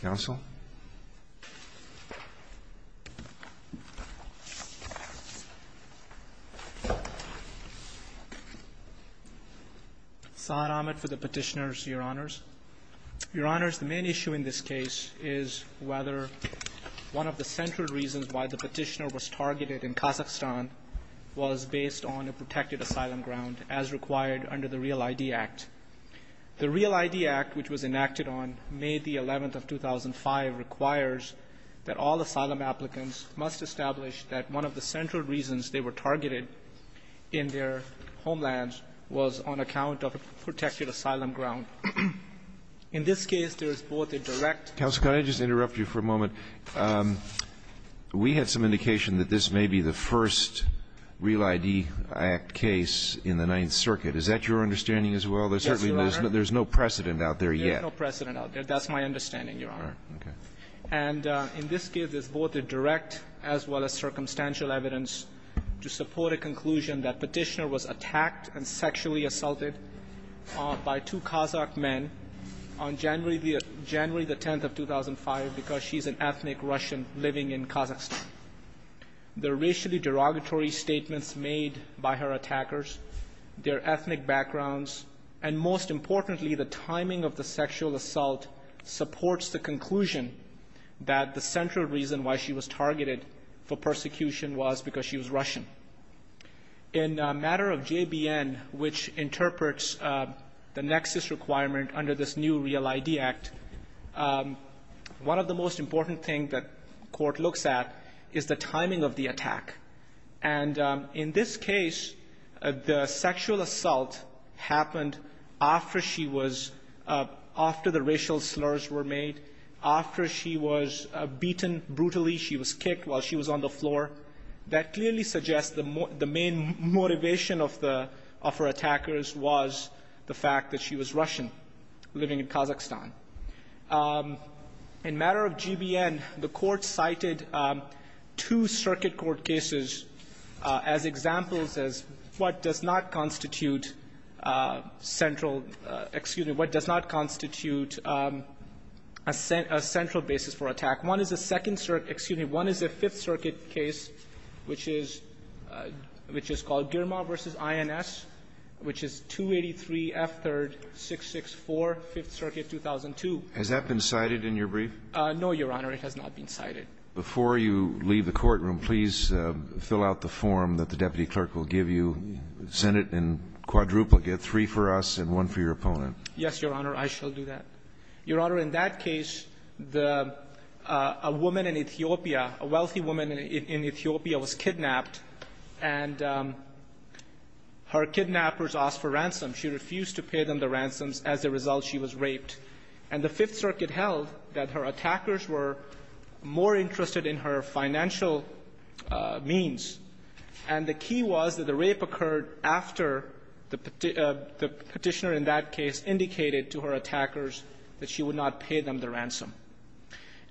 Council Saad Ahmed for the petitioners, your honors. Your honors, the main issue in this case is whether one of the central reasons why the petitioner was targeted in Kazakhstan was based on a protected asylum ground as required under the REAL-ID Act. The REAL-ID Act, which was enacted on May the 11th of 2005, requires that all asylum applicants must establish that one of the central reasons they were targeted in their homelands was on account of a protected asylum ground. In this case, there is both a direct Counsel, can I just interrupt you for a moment? We had some indication that this may be the first REAL-ID Act case in the Ninth Circuit. Is that your understanding as well? Yes, your honor. There's no precedent out there yet. There's no precedent out there. That's my understanding, your honor. And in this case, there's both a direct as well as circumstantial evidence to support a conclusion that petitioner was attacked and sexually assaulted by two Kazakh men on January the 10th of 2005 because she's an ethnic Russian living in Kazakhstan. The racially derogatory statements made by her attackers, their ethnic backgrounds, and most importantly, the timing of the sexual assault supports the conclusion that the central reason why she was targeted for persecution was because she was Russian. In a matter of JBN, which interprets the nexus requirement under this new REAL-ID Act, one of the most important thing that court looks at is the timing of the attack. And in this case, the sexual assault happened after she was, after the racial slurs were made, after she was beaten brutally, she was kicked while she was on the floor. That clearly suggests the main motivation of her attackers was the fact that she was Russian living in Kazakhstan. In a matter of JBN, the court cited two circuit court cases as examples as what does not constitute central, excuse me, what does not constitute a central basis for attack. One is a second circuit, excuse me, one is a Fifth Circuit case, which is called Girma v. INS, which is 283F3-664, Fifth Circuit, 2002. Has that been cited in your brief? No, Your Honor. It has not been cited. Before you leave the courtroom, please fill out the form that the deputy clerk will give you. Send it in quadruplicate, three for us and one for your opponent. Yes, Your Honor. I shall do that. Your Honor, in that case, the, a woman in Ethiopia, a wealthy woman in Ethiopia was kidnapped, and her kidnappers asked for ransom. She refused to pay them the ransoms. As a result, she was raped. And the Fifth Circuit held that her attackers were more interested in her financial means, and the key was that the rape occurred after the Petitioner in that case indicated to her attackers that she would not pay them the ransom.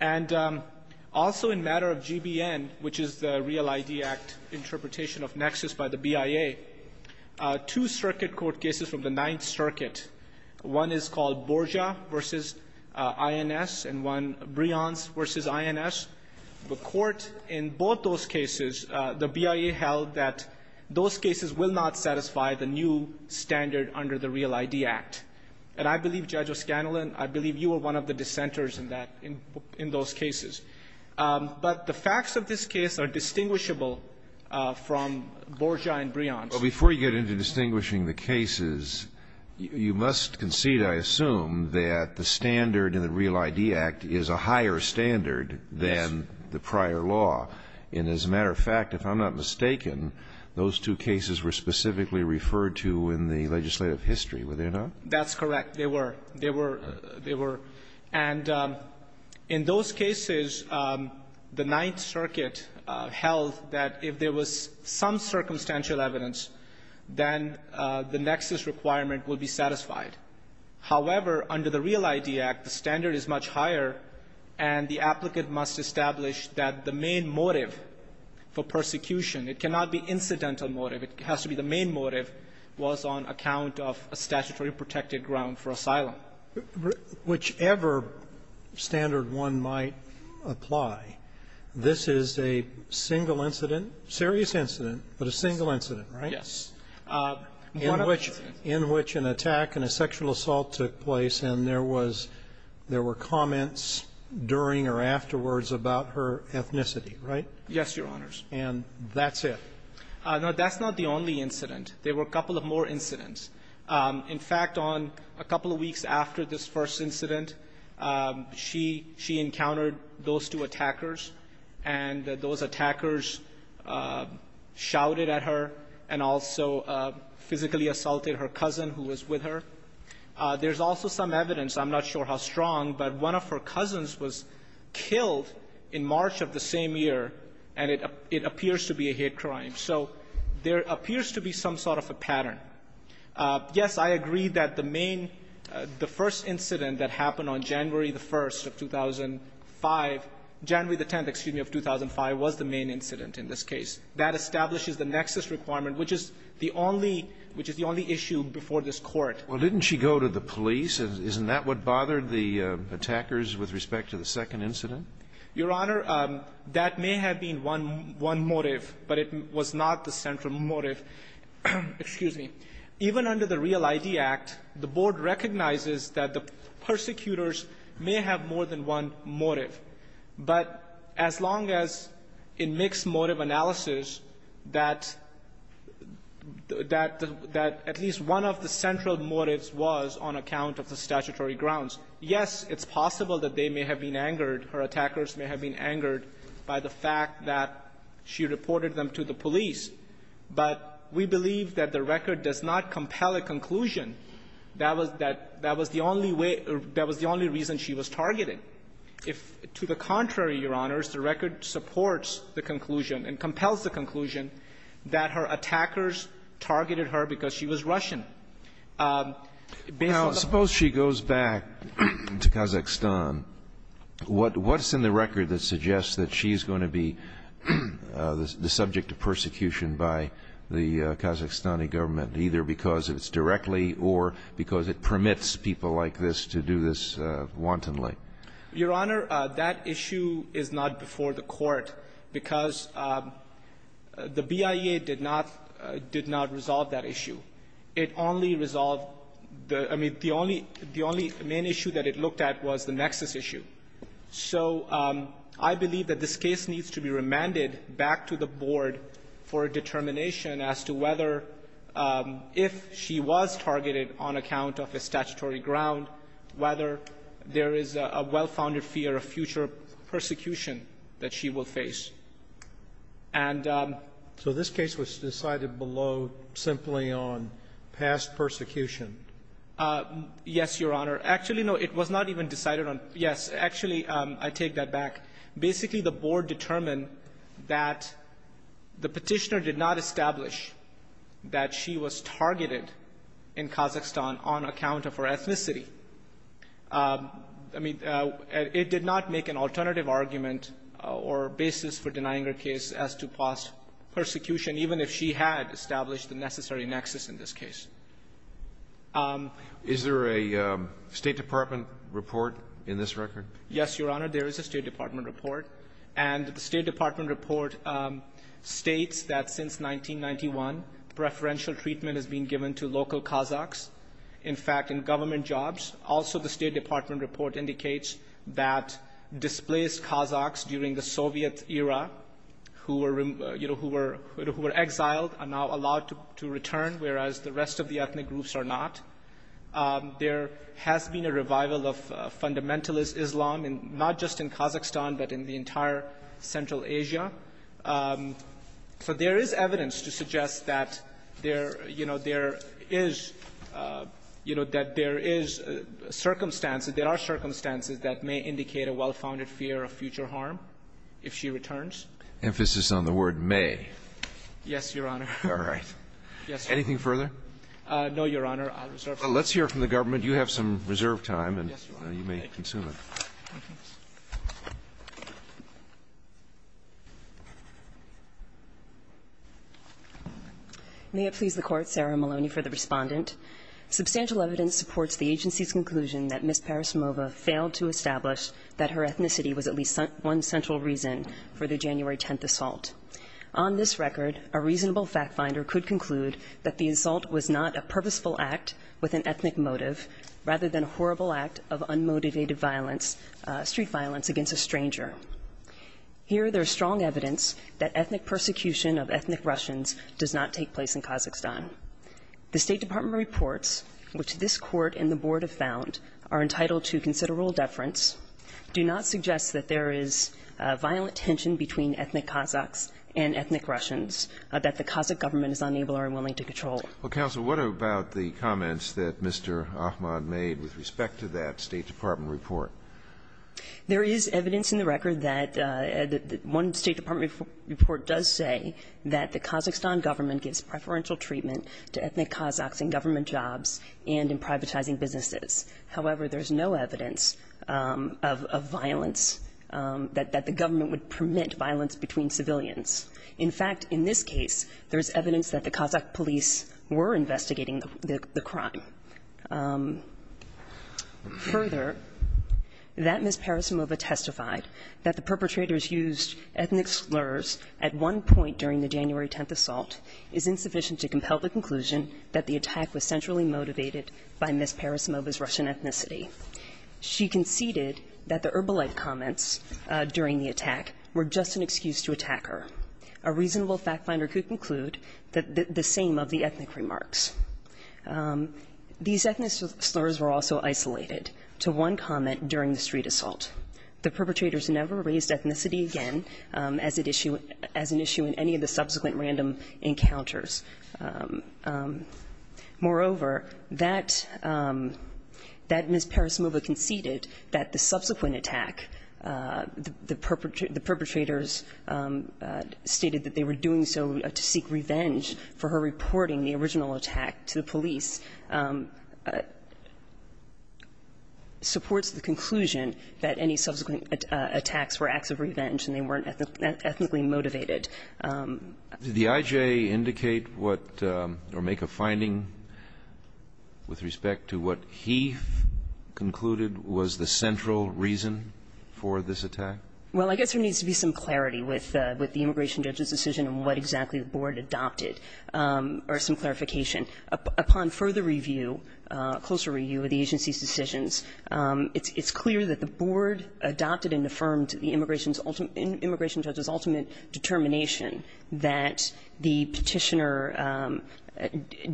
And also in matter of GBN, which is the Real ID Act interpretation of nexus by the BIA, two circuit court cases from the Ninth Circuit, one is called Borja v. INS and one, Brians v. INS, the court in both those cases, the BIA held that those cases will not satisfy the new standard under the Real ID Act. And I believe, Judge O'Scanlan, I believe you are one of the dissenters in that, in those cases. But the facts of this case are distinguishable from Borja and Brians. But before you get into distinguishing the cases, you must concede, I assume, that the standard in the Real ID Act is a higher standard than the prior law. And as a matter of fact, if I'm not mistaken, those two cases were specifically referred to in the legislative history, were they not? That's correct. They were. They were. They were. And in those cases, the Ninth Circuit held that if there was some circumstantial evidence, then the nexus requirement would be satisfied. However, under the Real ID Act, the standard is much higher, and the applicant must establish that the main motive for persecution, it cannot be incidental motive, it has to be the main motive, was on account of a statutory protected ground for asylum. Whichever standard one might apply, this is a single incident, serious incident, but a single incident, right? Yes. In which an attack and a sexual assault took place, and there was there were comments during or afterwards about her ethnicity, right? Yes, Your Honors. And that's it? No, that's not the only incident. There were a couple of more incidents. In fact, on a couple of weeks after this first incident, she encountered those two attackers, and those attackers shouted at her and also physically assaulted her cousin who was with her. There's also some evidence, I'm not sure how strong, but one of her cousins was So there appears to be some sort of a pattern. Yes, I agree that the main, the first incident that happened on January the 1st of 2005, January the 10th, excuse me, of 2005 was the main incident in this case. That establishes the nexus requirement, which is the only, which is the only issue before this Court. Well, didn't she go to the police? Isn't that what bothered the attackers with respect to the second incident? Your Honor, that may have been one motive, but it was not the central motive. Excuse me. Even under the Real ID Act, the Board recognizes that the persecutors may have more than one motive. But as long as in mixed motive analysis that at least one of the central motives was on account of the statutory grounds, yes, it's possible that they may have been the attackers may have been angered by the fact that she reported them to the police. But we believe that the record does not compel a conclusion that was the only way or that was the only reason she was targeted. If to the contrary, Your Honors, the record supports the conclusion and compels the conclusion that her attackers targeted her because she was Russian. Now, suppose she goes back to Kazakhstan. What's in the record that suggests that she's going to be the subject of persecution by the Kazakhstani government, either because it's directly or because it permits people like this to do this wantonly? Your Honor, that issue is not before the Court because the BIA did not, did not resolve that issue. It only resolved the the only main issue that it looked at was the nexus issue. So I believe that this case needs to be remanded back to the Board for a determination as to whether if she was targeted on account of a statutory ground, whether there is a well-founded fear of future persecution that she will face. And so this case was decided below simply on past persecution. Yes, Your Honor. Actually, no, it was not even decided on. Yes, actually, I take that back. Basically, the Board determined that the Petitioner did not establish that she was targeted in Kazakhstan on account of her ethnicity. I mean, it did not make an alternative argument or basis for denying her case as to past persecution, even if she had established the necessary nexus in this case. Is there a State Department report in this record? Yes, Your Honor, there is a State Department report. And the State Department report states that since 1991, preferential treatment has been given to local Kazakhs. In fact, in government jobs. Also, the State Department report indicates that displaced Kazakhs during the Soviet era who were exiled are now allowed to return, whereas the rest of the ethnic groups are not. There has been a revival of fundamentalist Islam, not just in Kazakhstan, but in the entire Central Asia. So there is evidence to suggest that there, you know, there is, you know, that there is circumstances, there are circumstances that may indicate a well-founded fear of future harm if she returns. Emphasis on the word may. Yes, Your Honor. All right. Anything further? No, Your Honor. I'll reserve time. Well, let's hear from the government. You have some reserved time, and you may consume it. Thank you. May it please the Court, Sarah Maloney for the respondent. Substantial evidence supports the agency's conclusion that Ms. Parasmova failed to establish that her ethnicity was at least one central reason for the January 10th assault. On this record, a reasonable fact finder could conclude that the assault was not a purposeful act with an ethnic motive, rather than a horrible act of unmotivated violence, street violence against a stranger. Here, there is strong evidence that ethnic persecution of ethnic Russians does not take place in Kazakhstan. The State Department reports, which this Court and the Board have found, are entitled to considerable deference, do not suggest that there is violent tension between ethnic Kazakhs and ethnic Russians that the Kazakh government is unable or unwilling to control. Well, counsel, what about the comments that Mr. Ahmad made with respect to that State Department report? There is evidence in the record that one State Department report does say that the Kazakhstan government gives preferential treatment to ethnic Kazakhs in government jobs and in privatizing businesses. However, there is no evidence of violence that the government would permit violence between civilians. In fact, in this case, there is evidence that the Kazakh police were investigating the crime. Further, that Ms. Parasimova testified that the perpetrators used ethnic slurs at one point during the January 10th assault is insufficient to compel the conclusion that the attack was centrally motivated by Ms. Parasimova's Russian ethnicity. She conceded that the erbilite comments during the attack were just an excuse to attack her. A reasonable fact finder could conclude the same of the ethnic remarks. These ethnic slurs were also isolated to one comment during the street assault. The perpetrators never raised ethnicity again as an issue in any of the subsequent random encounters. Moreover, that Ms. Parasimova conceded that the subsequent attack, the perpetrators stated that they were doing so to seek revenge for her reporting the original attack to the police, supports the conclusion that any subsequent attacks were acts of revenge and they weren't ethnically motivated. Did the IJ indicate what or make a finding with respect to what he concluded was the central reason for this attack? Well, I guess there needs to be some clarity with the immigration judge's decision and what exactly the board adopted, or some clarification. Upon further review, closer review of the agency's decisions, it's clear that the petitioner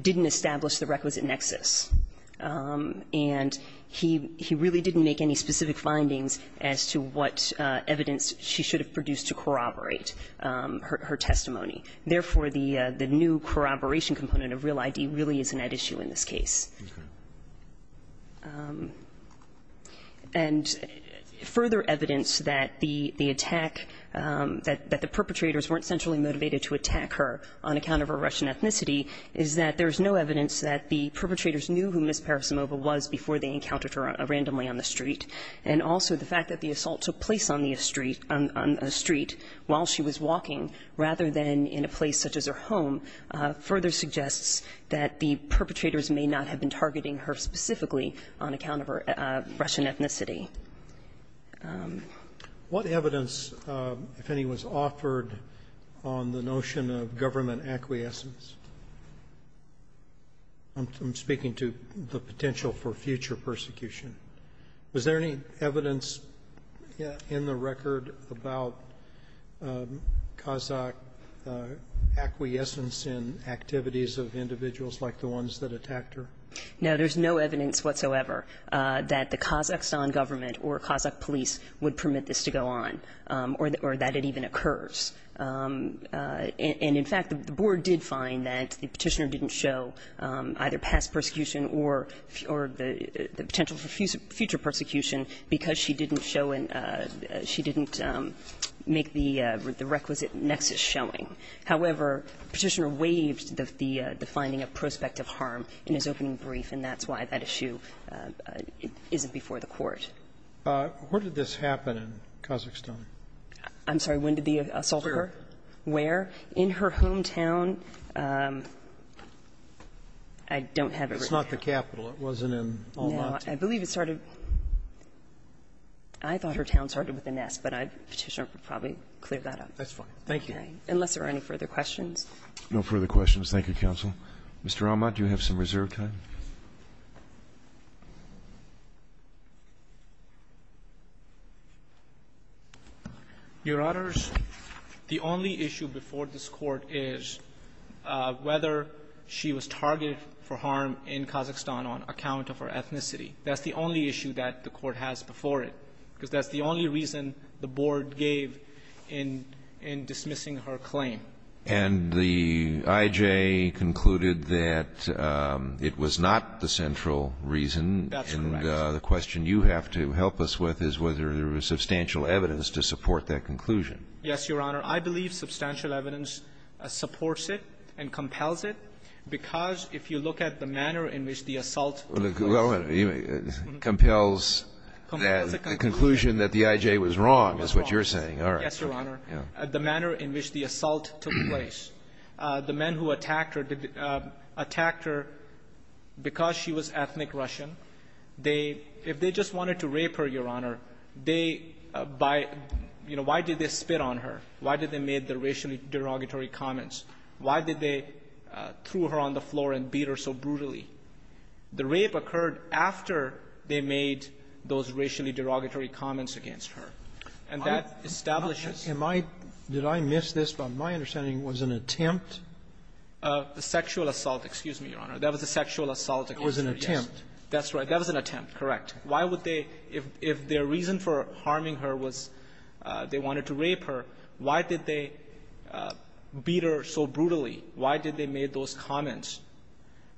didn't establish the requisite nexus, and he really didn't make any specific findings as to what evidence she should have produced to corroborate her testimony. Therefore, the new corroboration component of real ID really isn't at issue in this case. And further evidence that the attack, that the perpetrators weren't centrally motivated to attack her on account of her Russian ethnicity is that there's no evidence that the perpetrators knew who Ms. Parasimova was before they encountered her randomly on the street. And also the fact that the assault took place on the street, on a street while she was walking, rather than in a place such as her home, further suggests that the perpetrators may not have been targeting her specifically on account of her Russian ethnicity. What evidence, if any, was offered on the notion of government acquiescence? I'm speaking to the potential for future persecution. Was there any evidence in the record about Kazakh acquiescence in activities of individuals like the ones that attacked her? No, there's no evidence whatsoever that the Kazakhstan government or Kazakh police would permit this to go on or that it even occurs. And in fact, the board did find that the petitioner didn't show either past persecution or the potential for future persecution because she didn't show in – she didn't make the requisite nexus showing. However, the petitioner waived the finding of prospective harm in his opening brief, and that's why that issue isn't before the Court. Where did this happen in Kazakhstan? I'm sorry. When did the assault occur? Where? In her hometown. I don't have it right now. It's not the capital. It wasn't in Almaty. No. I believe it started – I thought her town started with a nest, but I'd – the petitioner would probably clear that up. That's fine. Thank you. Unless there are any further questions. No further questions. Thank you, counsel. Mr. Almat, do you have some reserve time? Your Honors, the only issue before this Court is whether she was targeted for harm in Kazakhstan on account of her ethnicity. That's the only issue that the Court has before it, because that's the only reason the board gave in dismissing her claim. And the I.J. concluded that it was not the central reason. That's correct. And the question you have to help us with is whether there was substantial evidence to support that conclusion. Yes, Your Honor. I believe substantial evidence supports it and compels it, because if you look at the manner in which the assault – Well, it compels the conclusion that the I.J. was wrong, is what you're saying. Yes, Your Honor. The manner in which the assault took place, the men who attacked her, attacked her because she was ethnic Russian. They – if they just wanted to rape her, Your Honor, they – by – you know, why did they spit on her? Why did they make the racially derogatory comments? Why did they throw her on the floor and beat her so brutally? The rape occurred after they made those racially derogatory comments against her. And that establishes – Am I – did I miss this from my understanding? It was an attempt? A sexual assault. Excuse me, Your Honor. That was a sexual assault against her, yes. It was an attempt. That's right. That was an attempt. Correct. Why would they – if their reason for harming her was they wanted to rape her, why did they beat her so brutally? Why did they make those comments?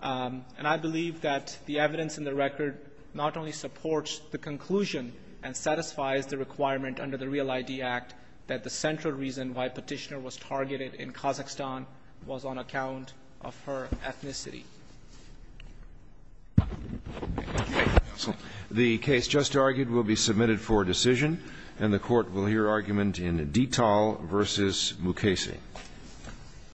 And I believe that the evidence in the record not only supports the conclusion and satisfies the requirement under the REAL-ID Act that the central reason why Petitioner was targeted in Kazakhstan was on account of her ethnicity. Thank you, counsel. The case just argued will be submitted for decision, and the Court will hear argument in Detal v. Mukasey.